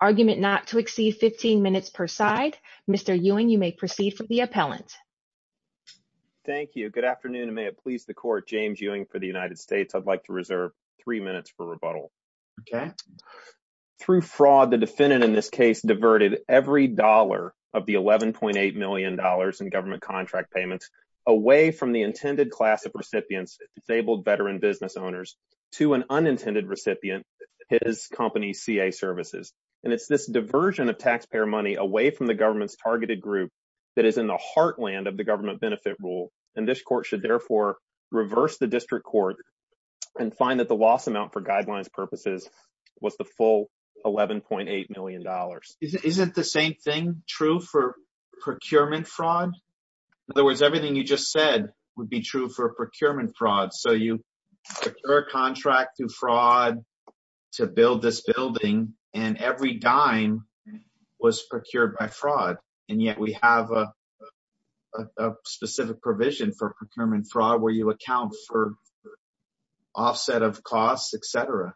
Argument not to exceed 15 minutes per side. Mr. Ewing, you may proceed for the appellant. Thank you. Good afternoon and may it please the court. James Ewing for the United States. I'd like to reserve three minutes for rebuttal. Through fraud, the defendant in this case diverted every dollar of the $11.8 million in government contract payments away from the intended class of recipients, disabled veteran business owners, to an unintended recipient, his company CA Services. And it's this diversion of taxpayer money away from the government's targeted group that is in the heartland of the government benefit rule. And this court should therefore reverse the district court and find that the loss amount for guidelines purposes was the full $11.8 million. Isn't the same thing true for procurement fraud? In other words, everything you just said would be true for procurement fraud. So you procure a contract through fraud to build this building and every dime was procured by fraud. And yet we have a specific provision for procurement fraud where you account for offset of costs, etc.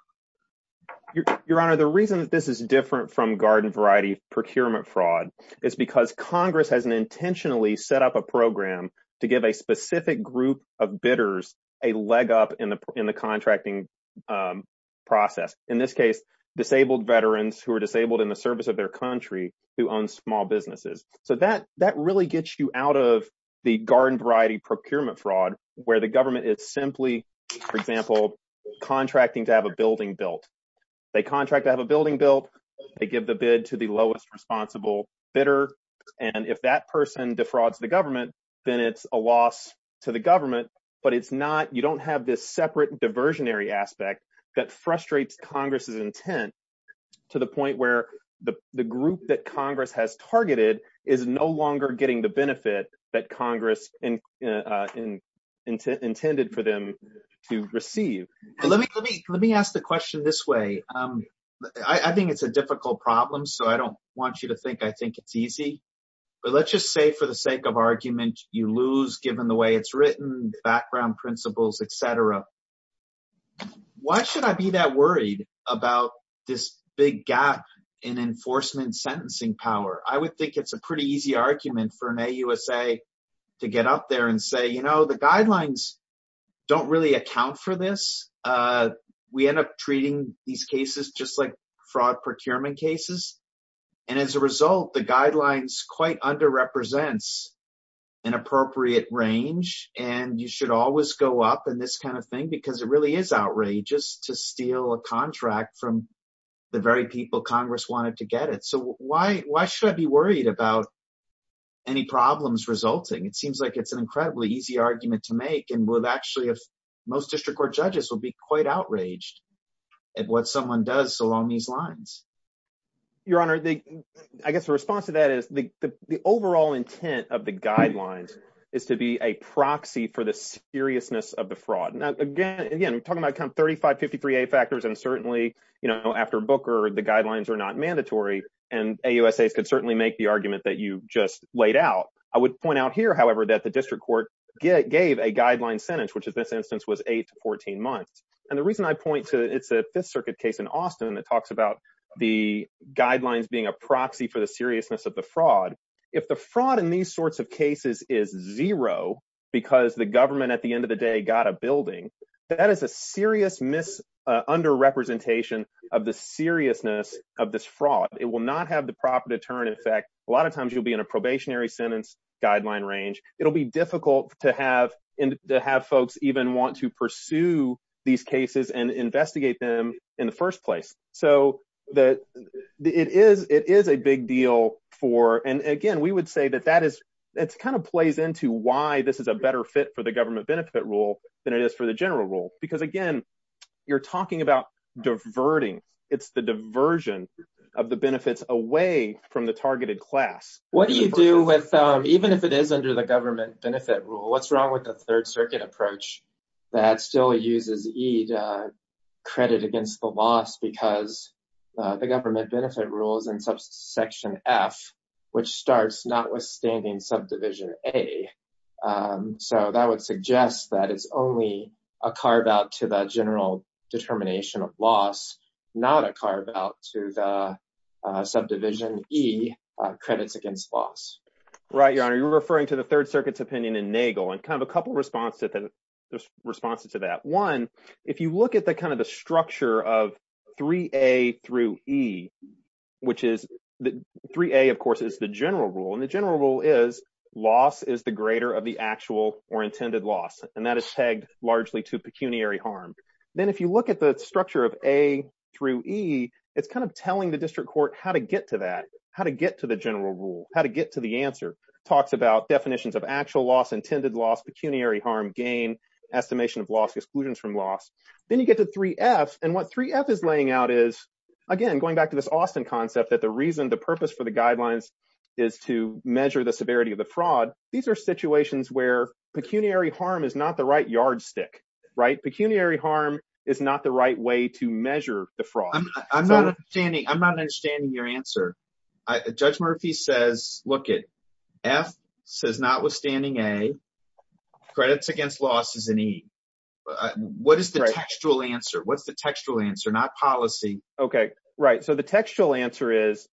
Your Honor, the reason that this is different from garden variety procurement fraud is because Congress has intentionally set up a program to give a specific group of bidders a leg up in the contracting process. In this case, disabled veterans who are disabled in the service of their country who own small businesses. So that really gets you out of the garden variety procurement fraud where the government is simply, for example, contracting to have a building built. They contract to have a building built, they give the bid to the lowest responsible bidder, and if that person defrauds the government, then it's a loss to the government. But you don't have this separate diversionary aspect that frustrates Congress's intent to the point where the group that Congress has targeted is no longer getting the benefit that Congress intended for them to receive. Let me ask the question this way. I think it's a difficult problem, so I don't want you to think I think it's easy. But let's just say for the sake of argument, you lose given the way it's written, background principles, etc. Why should I be that worried about this big gap in enforcement sentencing power? I would think it's a pretty easy argument for an AUSA to get up there and say, you know, the guidelines don't really account for this. We end up treating these cases just like fraud procurement cases. And as a result, the guidelines quite under represents an appropriate range. And you should always go up and this kind of thing, because it really is outrageous to steal a contract from the very people Congress wanted to get it. So why why should I be worried about any problems resulting? It seems like it's an incredibly easy argument to make. And we'll actually have most district court judges will be quite outraged at what someone does along these lines. Your Honor, I guess the response to that is the overall intent of the guidelines is to be a proxy for the seriousness of the fraud. Now, again, again, talking about 35, 53 factors and certainly, you know, after Booker, the guidelines are not mandatory. And AUSA could certainly make the argument that you just laid out. I would point out here, however, that the district court gave a guideline sentence, which in this instance was eight to 14 months. And the reason I point to it's a Fifth Circuit case in Austin that talks about the guidelines being a proxy for the seriousness of the fraud. If the fraud in these sorts of cases is zero because the government at the end of the day got a building, that is a serious mis under representation of the seriousness of this fraud. It will not have the proper deterrent effect. A lot of times you'll be in a probationary sentence guideline range. It'll be difficult to have to have folks even want to pursue these cases and investigate them in the first place. So that it is it is a big deal for and again, we would say that that is it's kind of plays into why this is a better fit for the government benefit rule than it is for the general rule. Because, again, you're talking about diverting. It's the diversion of the benefits away from the targeted class. What do you do with even if it is under the government benefit rule, what's wrong with the Third Circuit approach that still uses E to credit against the loss? Because the government benefit rules and subsection F, which starts notwithstanding subdivision A. So that would suggest that it's only a carve out to the general determination of loss, not a carve out to the subdivision E credits against loss. Right. You're referring to the Third Circuit's opinion in Nagel and kind of a couple of responses to that one. If you look at the kind of the structure of 3A through E, which is 3A, of course, is the general rule. And the general rule is loss is the greater of the actual or intended loss. And that is tagged largely to pecuniary harm. Then if you look at the structure of A through E, it's kind of telling the district court how to get to that, how to get to the general rule, how to get to the answer. Talks about definitions of actual loss, intended loss, pecuniary harm, gain, estimation of loss, exclusions from loss. Then you get to 3F and what 3F is laying out is, again, going back to this Austin concept that the reason the purpose for the guidelines is to measure the severity of the fraud. These are situations where pecuniary harm is not the right yardstick. Right. Pecuniary harm is not the right way to measure the fraud. I'm not understanding your answer. Judge Murphy says, look it, F says notwithstanding A, credits against loss is an E. What is the textual answer? What's the textual answer? Not policy. Okay. Right. So the textual answer is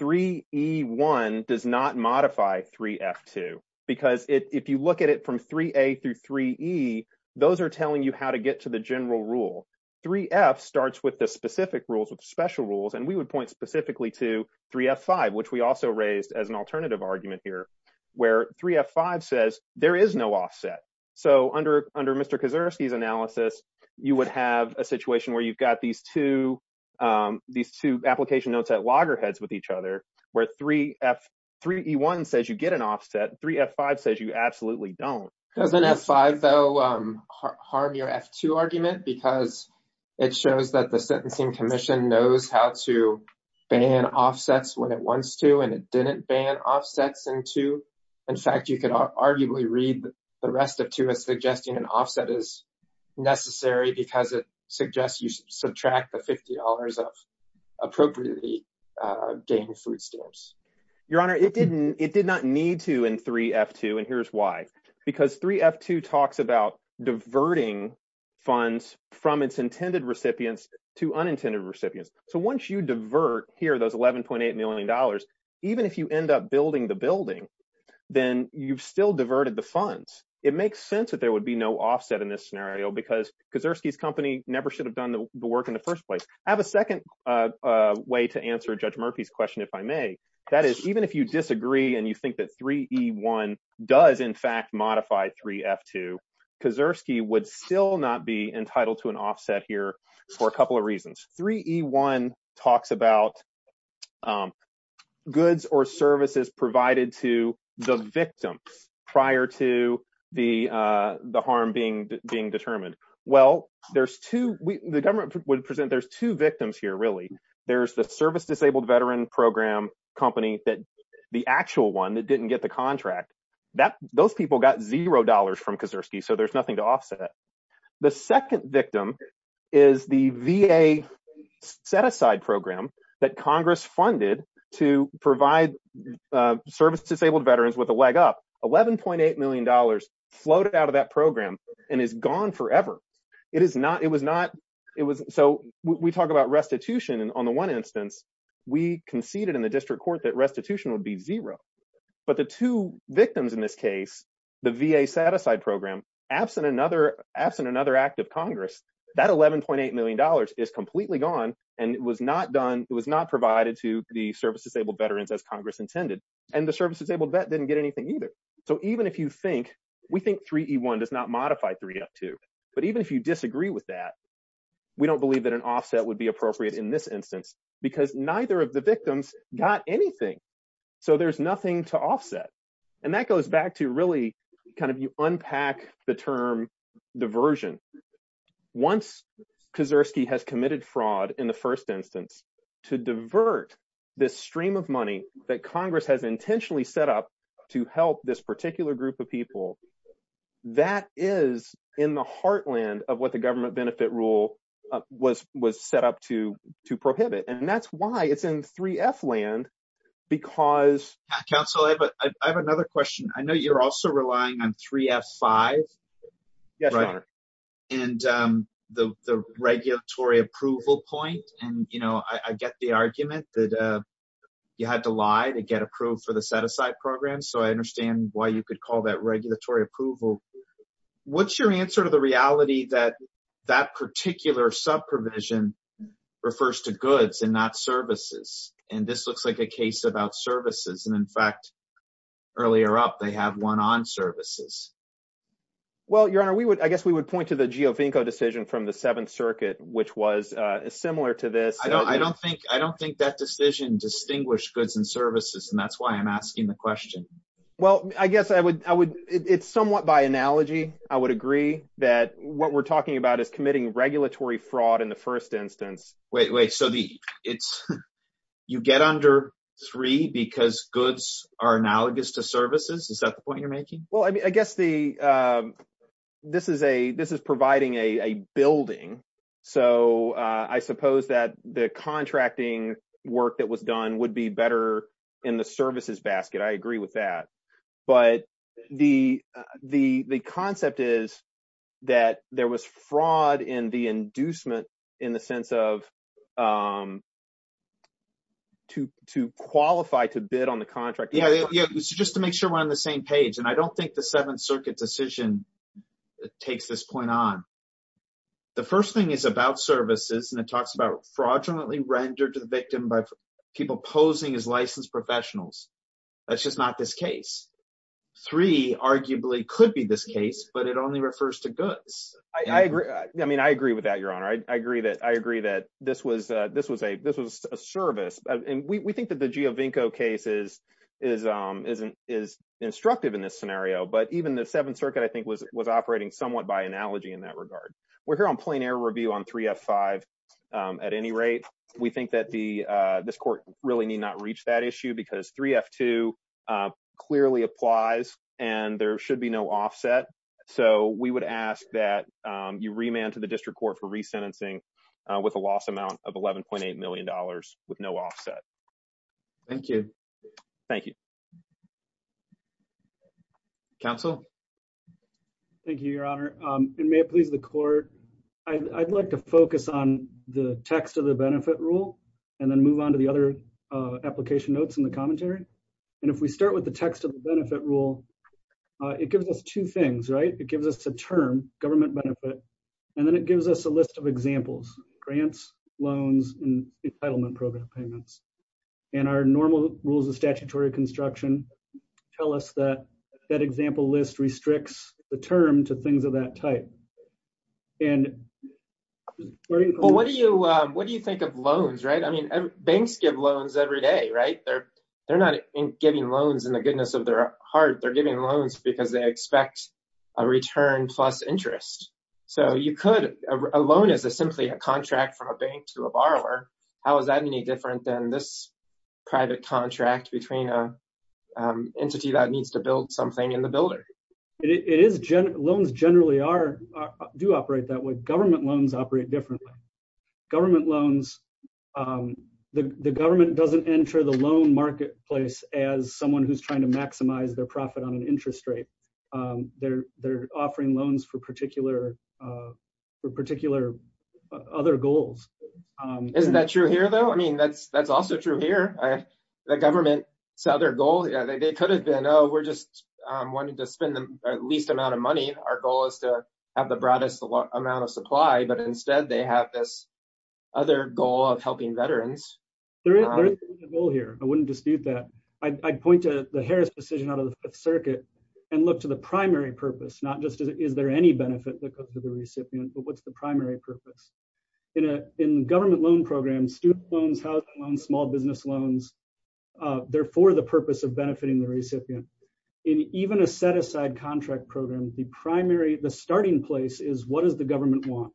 3E1 does not modify 3F2. Because if you look at it from 3A through 3E, those are telling you how to get to the general rule. 3F starts with the specific rules, with special rules, and we would point specifically to 3F5, which we also raised as an alternative argument here, where 3F5 says there is no offset. So under Mr. Kaczorowski's analysis, you would have a situation where you've got these two application notes at loggerheads with each other, where 3E1 says you get an offset, 3F5 says you absolutely don't. Doesn't F5, though, harm your F2 argument because it shows that the Sentencing Commission knows how to ban offsets when it wants to, and it didn't ban offsets in 2. In fact, you could arguably read the rest of 2 as suggesting an offset is necessary because it suggests you subtract the $50 of appropriately gained food stamps. Your Honor, it did not need to in 3F2, and here's why. Because 3F2 talks about diverting funds from its intended recipients to unintended recipients. So once you divert here those $11.8 million, even if you end up building the building, then you've still diverted the funds. It makes sense that there would be no offset in this scenario because Kaczorowski's company never should have done the work in the first place. I have a second way to answer Judge Murphy's question, if I may. That is, even if you disagree and you think that 3E1 does, in fact, modify 3F2, Kaczorowski would still not be entitled to an offset here for a couple of reasons. 3E1 talks about goods or services provided to the victim prior to the harm being determined. Well, the government would present there's 2 victims here, really. There's the service disabled veteran program company, the actual one that didn't get the contract. Those people got $0 from Kaczorowski, so there's nothing to offset. The second victim is the VA set-aside program that Congress funded to provide service disabled veterans with a leg up. $11.8 million floated out of that program and is gone forever. We talk about restitution, and on the one instance, we conceded in the district court that restitution would be zero. But the 2 victims in this case, the VA set-aside program, absent another act of Congress, that $11.8 million is completely gone and it was not provided to the service disabled veterans as Congress intended, and the service disabled vet didn't get anything either. We think 3E1 does not modify 3F2, but even if you disagree with that, we don't believe that an offset would be appropriate in this instance because neither of the victims got anything, so there's nothing to offset. And that goes back to really kind of unpack the term diversion. Once Kaczorowski has committed fraud in the first instance, to divert this stream of money that Congress has intentionally set up to help this particular group of people, that is in the heartland of what the government benefit rule was set up to prohibit, and that's why it's in 3F land because Council, I have another question. I know you're also relying on 3F5 and the regulatory approval point, and I get the argument that you had to lie to get approved for the set-aside program, so I understand why you could call that regulatory approval. What's your answer to the reality that that particular sub-provision refers to goods and not services? And this looks like a case about services, and in fact, earlier up, they had one on services. Well, Your Honor, I guess we would point to the Geovinco decision from the Seventh Circuit, which was similar to this. I don't think that decision distinguished goods and services, and that's why I'm asking the question. Well, I guess it's somewhat by analogy. I would agree that what we're talking about is committing regulatory fraud in the first instance. Wait, wait. So you get under three because goods are analogous to services? Is that the point you're making? Well, I guess this is providing a building, so I suppose that the contracting work that was done would be better in the services basket. I agree with that. But the concept is that there was fraud in the inducement in the sense of to qualify to bid on the contract. Yeah, just to make sure we're on the same page, and I don't think the Seventh Circuit decision takes this point on. The first thing is about services, and it talks about fraudulently rendered to the victim by people posing as licensed professionals. That's just not this case. Three arguably could be this case, but it only refers to goods. I mean, I agree with that, Your Honor. I agree that this was a service, and we think that the Giovinco case is instructive in this scenario. But even the Seventh Circuit, I think, was operating somewhat by analogy in that regard. We're here on plein air review on 3F5 at any rate. We think that this court really need not reach that issue because 3F2 clearly applies, and there should be no offset. So we would ask that you remand to the district court for resentencing with a loss amount of $11.8 million with no offset. Thank you. Thank you. Counsel? Thank you, Your Honor. And may it please the court, I'd like to focus on the text of the benefit rule and then move on to the other application notes in the commentary. And if we start with the text of the benefit rule, it gives us two things, right? It gives us a term, government benefit, and then it gives us a list of examples, grants, loans, and entitlement program payments. And our normal rules of statutory construction tell us that that example list restricts the term to things of that type. Well, what do you think of loans, right? I mean, banks give loans every day, right? They're not giving loans in the goodness of their heart. They're giving loans because they expect a return plus interest. So you could, a loan is simply a contract from a bank to a borrower. How is that any different than this private contract between an entity that needs to build something and the builder? Loans generally do operate that way. Government loans operate differently. Government loans, the government doesn't enter the loan marketplace as someone who's trying to maximize their profit on an interest rate. They're offering loans for particular other goals. Isn't that true here, though? I mean, that's also true here. The government, so their goal, they could have been, oh, we're just wanting to spend the least amount of money. Our goal is to have the broadest amount of supply. But instead, they have this other goal of helping veterans. There is a goal here. I wouldn't dispute that. I'd point to the Harris decision out of the Fifth Circuit and look to the primary purpose, not just is there any benefit to the recipient, but what's the primary purpose? In a government loan program, student loans, housing loans, small business loans, they're for the purpose of benefiting the recipient. In even a set aside contract program, the primary, the starting place is what does the government want?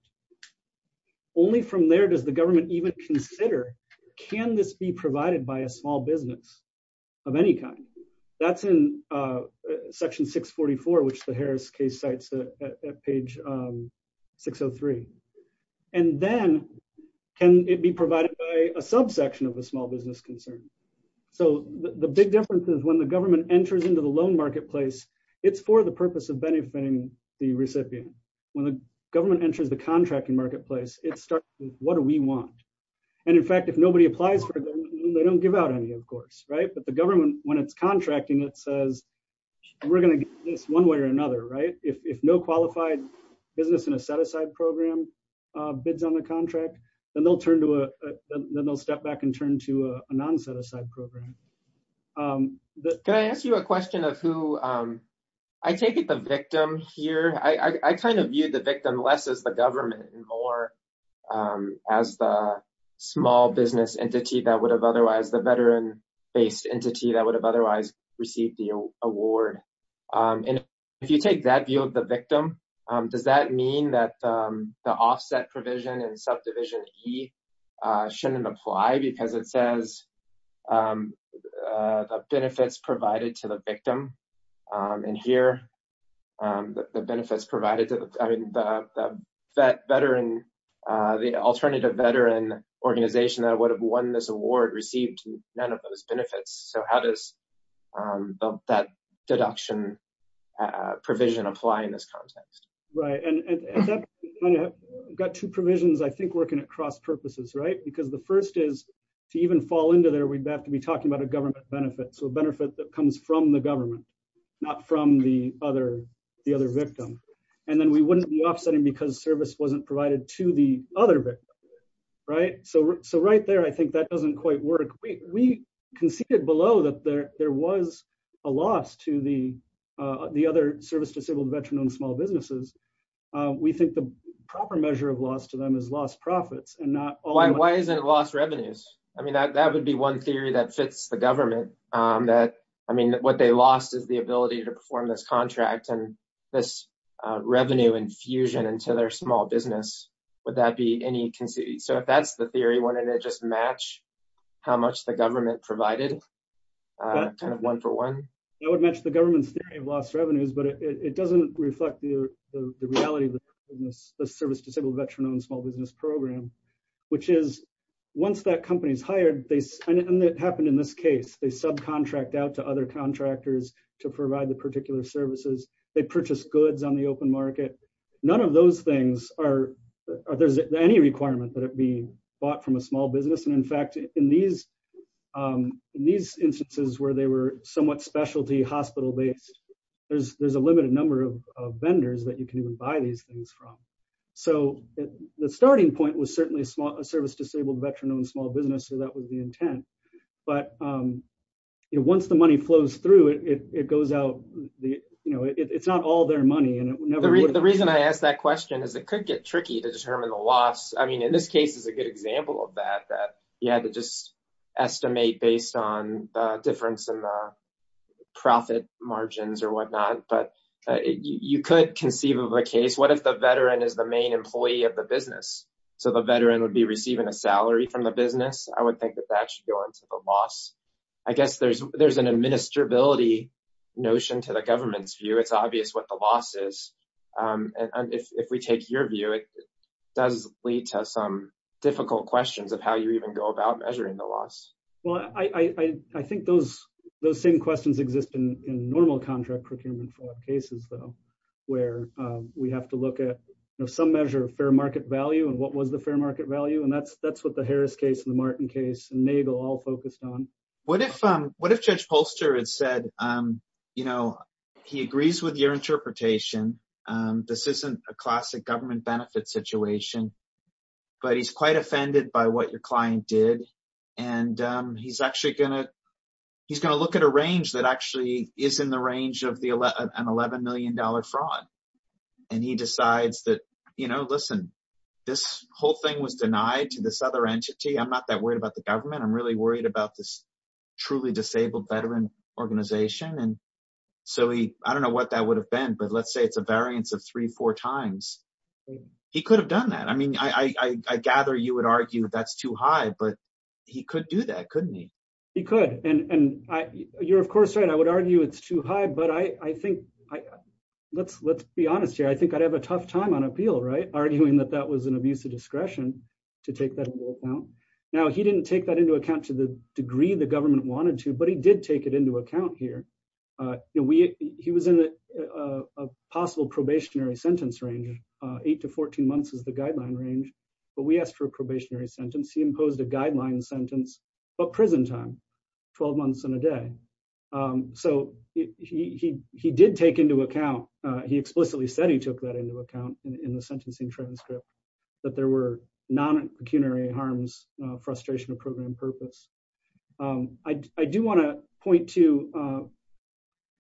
Only from there does the government even consider, can this be provided by a small business of any kind? That's in Section 644, which the Harris case cites at page 603. And then can it be provided by a subsection of a small business concern? So the big difference is when the government enters into the loan marketplace, it's for the purpose of benefiting the recipient. When the government enters the contracting marketplace, it starts with what do we want? And in fact, if nobody applies for it, they don't give out any, of course. But the government, when it's contracting, it says we're going to get this one way or another. If no qualified business in a set aside program bids on the contract, then they'll step back and turn to a non-set aside program. Can I ask you a question of who, I take it the victim here. I kind of viewed the victim less as the government and more as the small business entity that would have otherwise, the veteran based entity that would have otherwise received the award. And if you take that view of the victim, does that mean that the offset provision and subdivision E shouldn't apply? Because it says the benefits provided to the victim in here, the benefits provided to the veteran, the alternative veteran organization that would have won this award received none of those benefits. So how does that deduction provision apply in this context? Right. And I've got two provisions, I think, working at cross purposes. Right. Because the first is to even fall into there, we'd have to be talking about a government benefit. So a benefit that comes from the government, not from the other the other victim. And then we wouldn't be offsetting because service wasn't provided to the other victim. Right. So. So right there, I think that doesn't quite work. We conceded below that there was a loss to the other service disabled veteran owned small businesses. We think the proper measure of loss to them is lost profits and not. Why isn't it lost revenues? I mean, that would be one theory that fits the government that. I mean, what they lost is the ability to perform this contract and this revenue infusion into their small business. Would that be any conceit? So if that's the theory, wouldn't it just match how much the government provided kind of one for one? That would match the government's theory of lost revenues, but it doesn't reflect the reality of the service disabled veteran owned small business program, which is once that company is hired. And that happened in this case, they subcontract out to other contractors to provide the particular services. They purchase goods on the open market. None of those things are there's any requirement that it be bought from a small business. And in fact, in these in these instances where they were somewhat specialty hospital based, there's there's a limited number of vendors that you can even buy these things from. So the starting point was certainly a service disabled veteran owned small business. So that was the intent. But once the money flows through it, it goes out. It's not all their money. And the reason I ask that question is it could get tricky to determine the loss. I mean, in this case is a good example of that, that you had to just estimate based on difference in profit margins or whatnot. But you could conceive of a case. What if the veteran is the main employee of the business? So the veteran would be receiving a salary from the business. I would think that that should go into the loss. I guess there's there's an administrability notion to the government's view. It's obvious what the loss is. And if we take your view, it does lead to some difficult questions of how you even go about measuring the loss. Well, I think those those same questions exist in normal contract procurement cases, though, where we have to look at some measure of fair market value and what was the fair market value. And that's that's what the Harris case in the Martin case and Nagel all focused on. What if what if Judge Polster had said, you know, he agrees with your interpretation. This isn't a classic government benefit situation, but he's quite offended by what your client did. And he's actually going to he's going to look at a range that actually is in the range of the 11 million dollar fraud. And he decides that, you know, listen, this whole thing was denied to this other entity. I'm not that worried about the government. I'm really worried about this truly disabled veteran organization. And so I don't know what that would have been, but let's say it's a variance of three, four times. He could have done that. I mean, I gather you would argue that's too high, but he could do that, couldn't he? He could. And you're, of course, right. I would argue it's too high, but I think I let's let's be honest here. I think I'd have a tough time on appeal. Right. Arguing that that was an abuse of discretion to take that account. Now, he didn't take that into account to the degree the government wanted to, but he did take it into account here. We he was in a possible probationary sentence range. Eight to 14 months is the guideline range. But we asked for a probationary sentence. He imposed a guideline sentence, but prison time, 12 months and a day. So he he he did take into account. He explicitly said he took that into account in the sentencing transcript, that there were non-pecuniary harms, frustration of program purpose. I do want to point to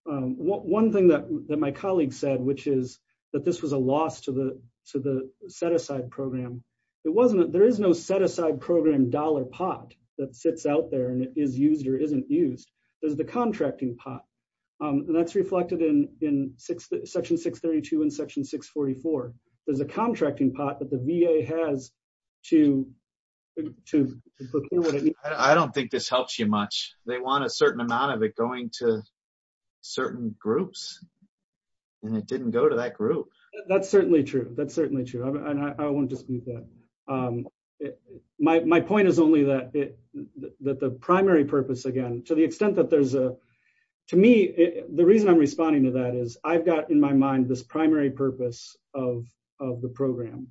one thing that my colleague said, which is that this was a loss to the to the set aside program. It wasn't. There is no set aside program dollar pot that sits out there and is used or isn't used. There's the contracting pot and that's reflected in in section 632 and section 644. There's a contracting pot that the VA has to to. I don't think this helps you much. They want a certain amount of it going to certain groups and it didn't go to that group. That's certainly true. That's certainly true. And I won't dispute that. My point is only that that the primary purpose, again, to the extent that there's a to me, the reason I'm responding to that is I've got in my mind this primary purpose of of the program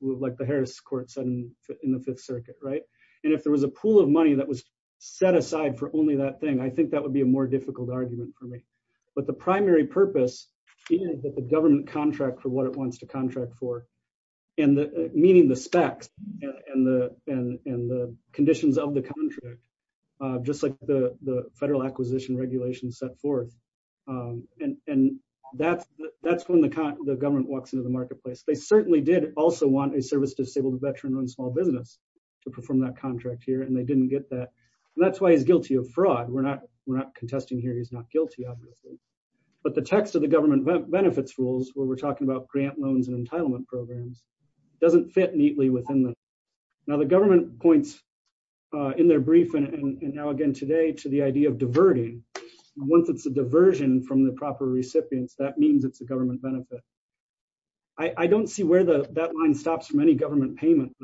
like the Harris courts and in the Fifth Circuit. Right. And if there was a pool of money that was set aside for only that thing, I think that would be a more difficult argument for me. But the primary purpose is that the government contract for what it wants to contract for and meaning the specs and the and the conditions of the contract, just like the federal acquisition regulations set forth. And that's that's when the government walks into the marketplace. They certainly did also want a service disabled veteran on small business to perform that contract here and they didn't get that. And that's why he's guilty of fraud. We're not we're not contesting here. He's not guilty. But the text of the government benefits rules where we're talking about grant loans and entitlement programs doesn't fit neatly within the. Now the government points in their brief and now again today to the idea of diverting once it's a diversion from the proper recipients. That means it's a government benefit. I don't see where the that line stops from any government payment.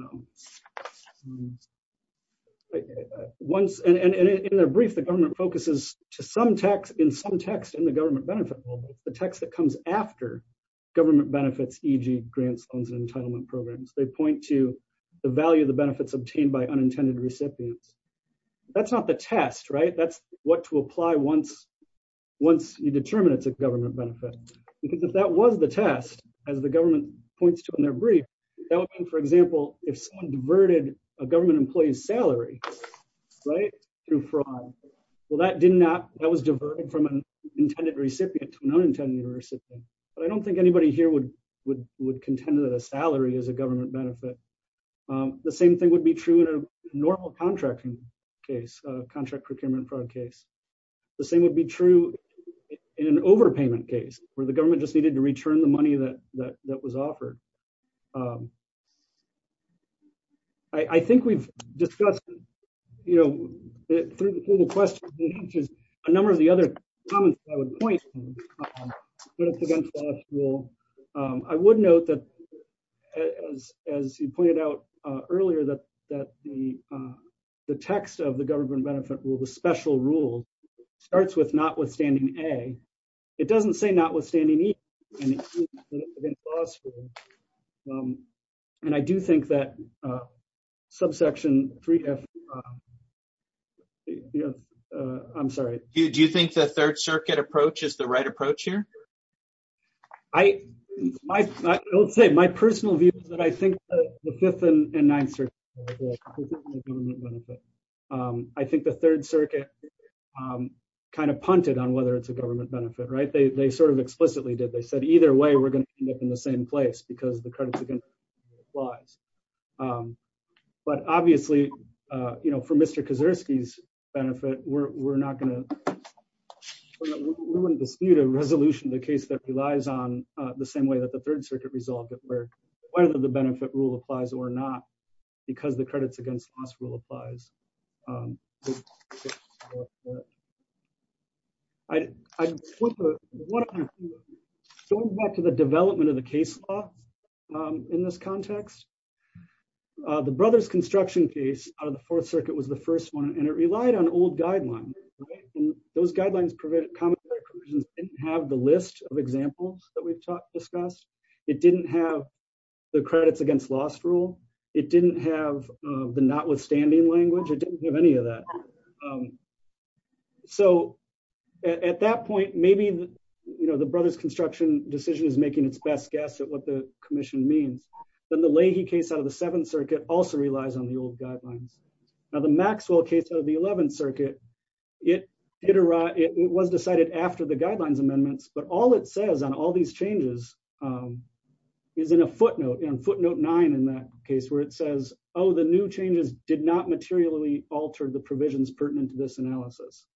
Once and in a brief the government focuses to some text in some text in the government benefit, the text that comes after government benefits, e.g. grants loans and entitlement programs, they point to the value of the benefits obtained by unintended recipients. That's not the test right that's what to apply once once you determine it's a government benefit. Because if that was the test, as the government points to in their brief. For example, if someone diverted a government employees salary right through fraud. Well that did not that was diverted from an intended recipient to an unintended recipient, but I don't think anybody here would would would contend that a salary as a government benefit. The same thing would be true in a normal contracting case contract procurement fraud case. The same would be true in an overpayment case where the government just needed to return the money that that that was offered. I think we've discussed, you know, through the question, which is a number of the other points. Well, I would note that, as, as you pointed out earlier that that the, the text of the government benefit will the special rule starts with notwithstanding a. It doesn't say notwithstanding. And I do think that subsection three. I'm sorry. Do you think the Third Circuit approaches the right approach here. I don't say my personal view, but I think the fifth and ninth. I think the Third Circuit kind of punted on whether it's a government benefit right they sort of explicitly did they said either way we're going to end up in the same place because the credits again applies. But obviously, you know, for Mr Kazersky's benefit, we're not going to dispute a resolution the case that relies on the same way that the Third Circuit resolved it where one of the benefit rule applies or not, because the credits against us will applies. I went back to the development of the case law. In this context. The Brothers construction case, or the Fourth Circuit was the first one and it relied on old guidelines. Those guidelines prevent common have the list of examples that we've discussed, it didn't have the credits against last rule. It didn't have the notwithstanding language or didn't have any of that. So, at that point, maybe, you know, the Brothers construction decision is making its best guess at what the commission means, then the Leahy case out of the Seventh Circuit also relies on the old guidelines. Now the Maxwell case of the 11th Circuit, it was decided after the guidelines amendments, but all it says on all these changes is in a footnote in footnote nine in that case where it says, Oh, the new changes did not materially altered the provisions pertinent to this analysis.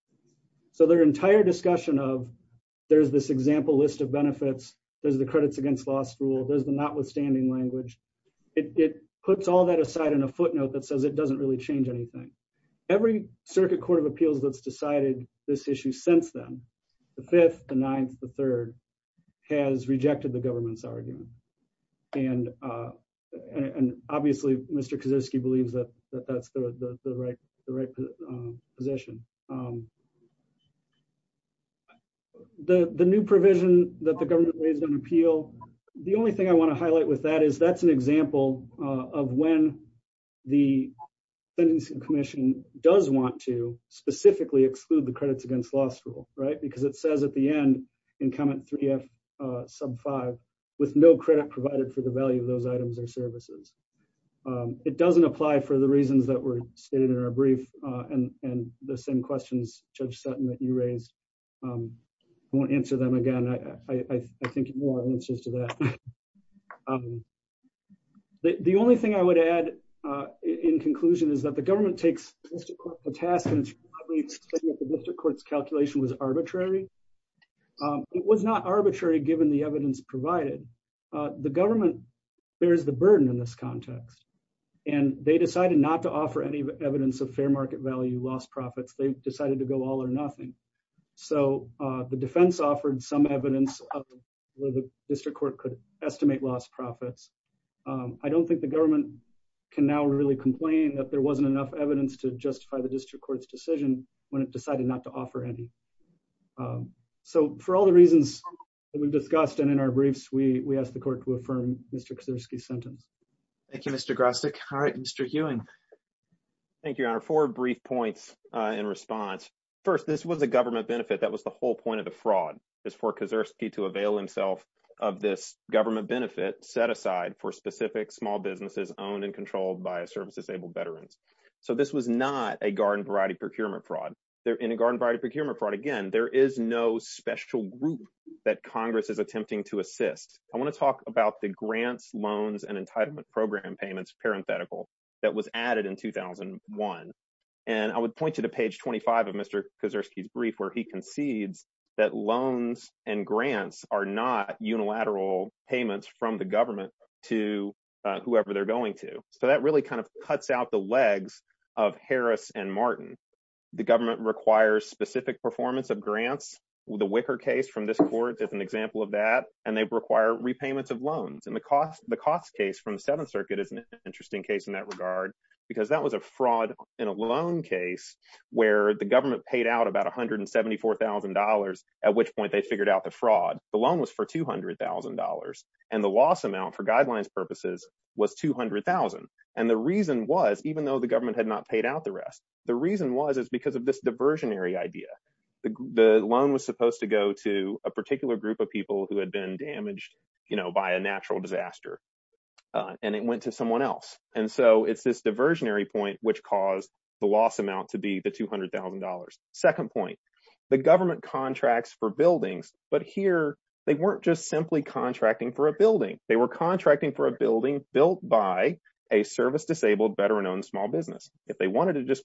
So their entire discussion of there's this example list of benefits, there's the credits against last rule there's the notwithstanding language. It puts all that aside in a footnote that says it doesn't really change anything. Every circuit Court of Appeals that's decided this issue since then, the fifth, the ninth, the third has rejected the government's argument and and obviously Mr Kazowski believes that that's the right, the right position. The, the new provision that the government raised on appeal. The only thing I want to highlight with that is that's an example of when the Commission does want to specifically exclude the credits against law school right because it says at the end in comment three F sub five with no credit provided for the value of those items or services. It doesn't apply for the reasons that were stated in our brief and and the same questions, Judge Sutton that you raised won't answer them again. I think more answers to that. The only thing I would add, in conclusion, is that the government takes a task and The court's calculation was arbitrary. It was not arbitrary, given the evidence provided the government bears the burden in this context. And they decided not to offer any evidence of fair market value loss profits, they decided to go all or nothing. So the defense offered some evidence of The district court could estimate loss profits. I don't think the government can now really complain that there wasn't enough evidence to justify the district court's decision when it decided not to offer any So for all the reasons we've discussed and in our briefs, we, we asked the court to affirm Mr Kazowski sentence. Thank you, Mr. Grassock. All right, Mr. Ewing. Thank you, Your Honor for brief points in response. First, this was a government benefit. That was the whole point of the fraud is for Kazowski to avail himself. Of this government benefit set aside for specific small businesses owned and controlled by a service disabled veterans. So this was not a garden variety procurement fraud there in a garden variety procurement fraud. Again, there is no special group. That Congress is attempting to assist. I want to talk about the grants loans and entitlement program payments parenthetical that was added in 2001 And I would point you to page 25 of Mr Kazowski's brief where he concedes that loans and grants are not unilateral payments from the government to Whoever they're going to. So that really kind of cuts out the legs of Harris and Martin. The government requires specific performance of grants with a wicker case from this court as an example of that and they require repayments of loans and the cost, the cost case from the Seventh Circuit is an interesting case in that regard. Because that was a fraud in a loan case where the government paid out about $174,000 at which point they figured out the fraud. The loan was for $200,000 and the loss amount for guidelines purposes was 200,000 And the reason was, even though the government had not paid out the rest. The reason was, is because of this diversionary idea. The loan was supposed to go to a particular group of people who had been damaged, you know, by a natural disaster. And it went to someone else. And so it's this diversionary point which caused the loss amount to be the $200,000 second point. The government contracts for buildings, but here they weren't just simply contracting for a building. They were contracting for a building built by a service disabled veteran owned small business. If they wanted to just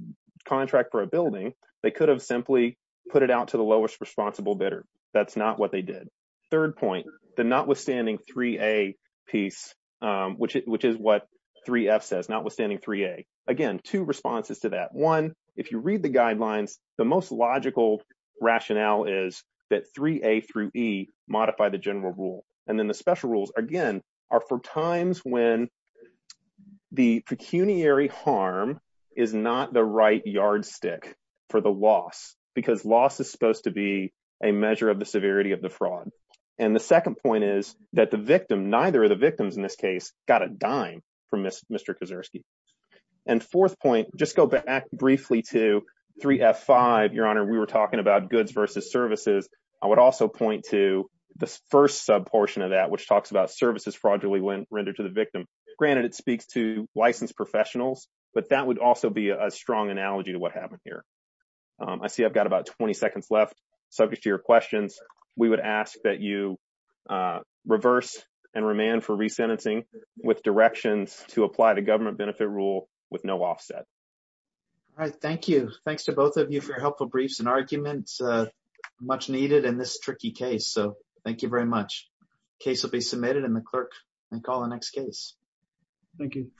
contract for a building, they could have simply put it out to the lowest responsible bidder. That's not what they did. Third point, the notwithstanding 3A piece, which is what 3F says, notwithstanding 3A. Again, two responses to that. One, if you read the guidelines, the most logical rationale is that 3A through E modify the general rule. And then the special rules, again, are for times when the pecuniary harm is not the right yardstick for the loss. Because loss is supposed to be a measure of the severity of the fraud. And the second point is that the victim, neither of the victims in this case, got a dime from Mr. Kaczorski. And fourth point, just go back briefly to 3F5. Your Honor, we were talking about goods versus services. I would also point to the first sub portion of that, which talks about services fraudulently rendered to the victim. Granted, it speaks to licensed professionals, but that would also be a strong analogy to what happened here. I see I've got about 20 seconds left. Subject to your questions, we would ask that you reverse and remand for resentencing with directions to apply the government benefit rule with no offset. All right. Thank you. Thanks to both of you for your helpful briefs and arguments. Much needed in this tricky case. So thank you very much. Case will be submitted and the clerk can call the next case. Thank you.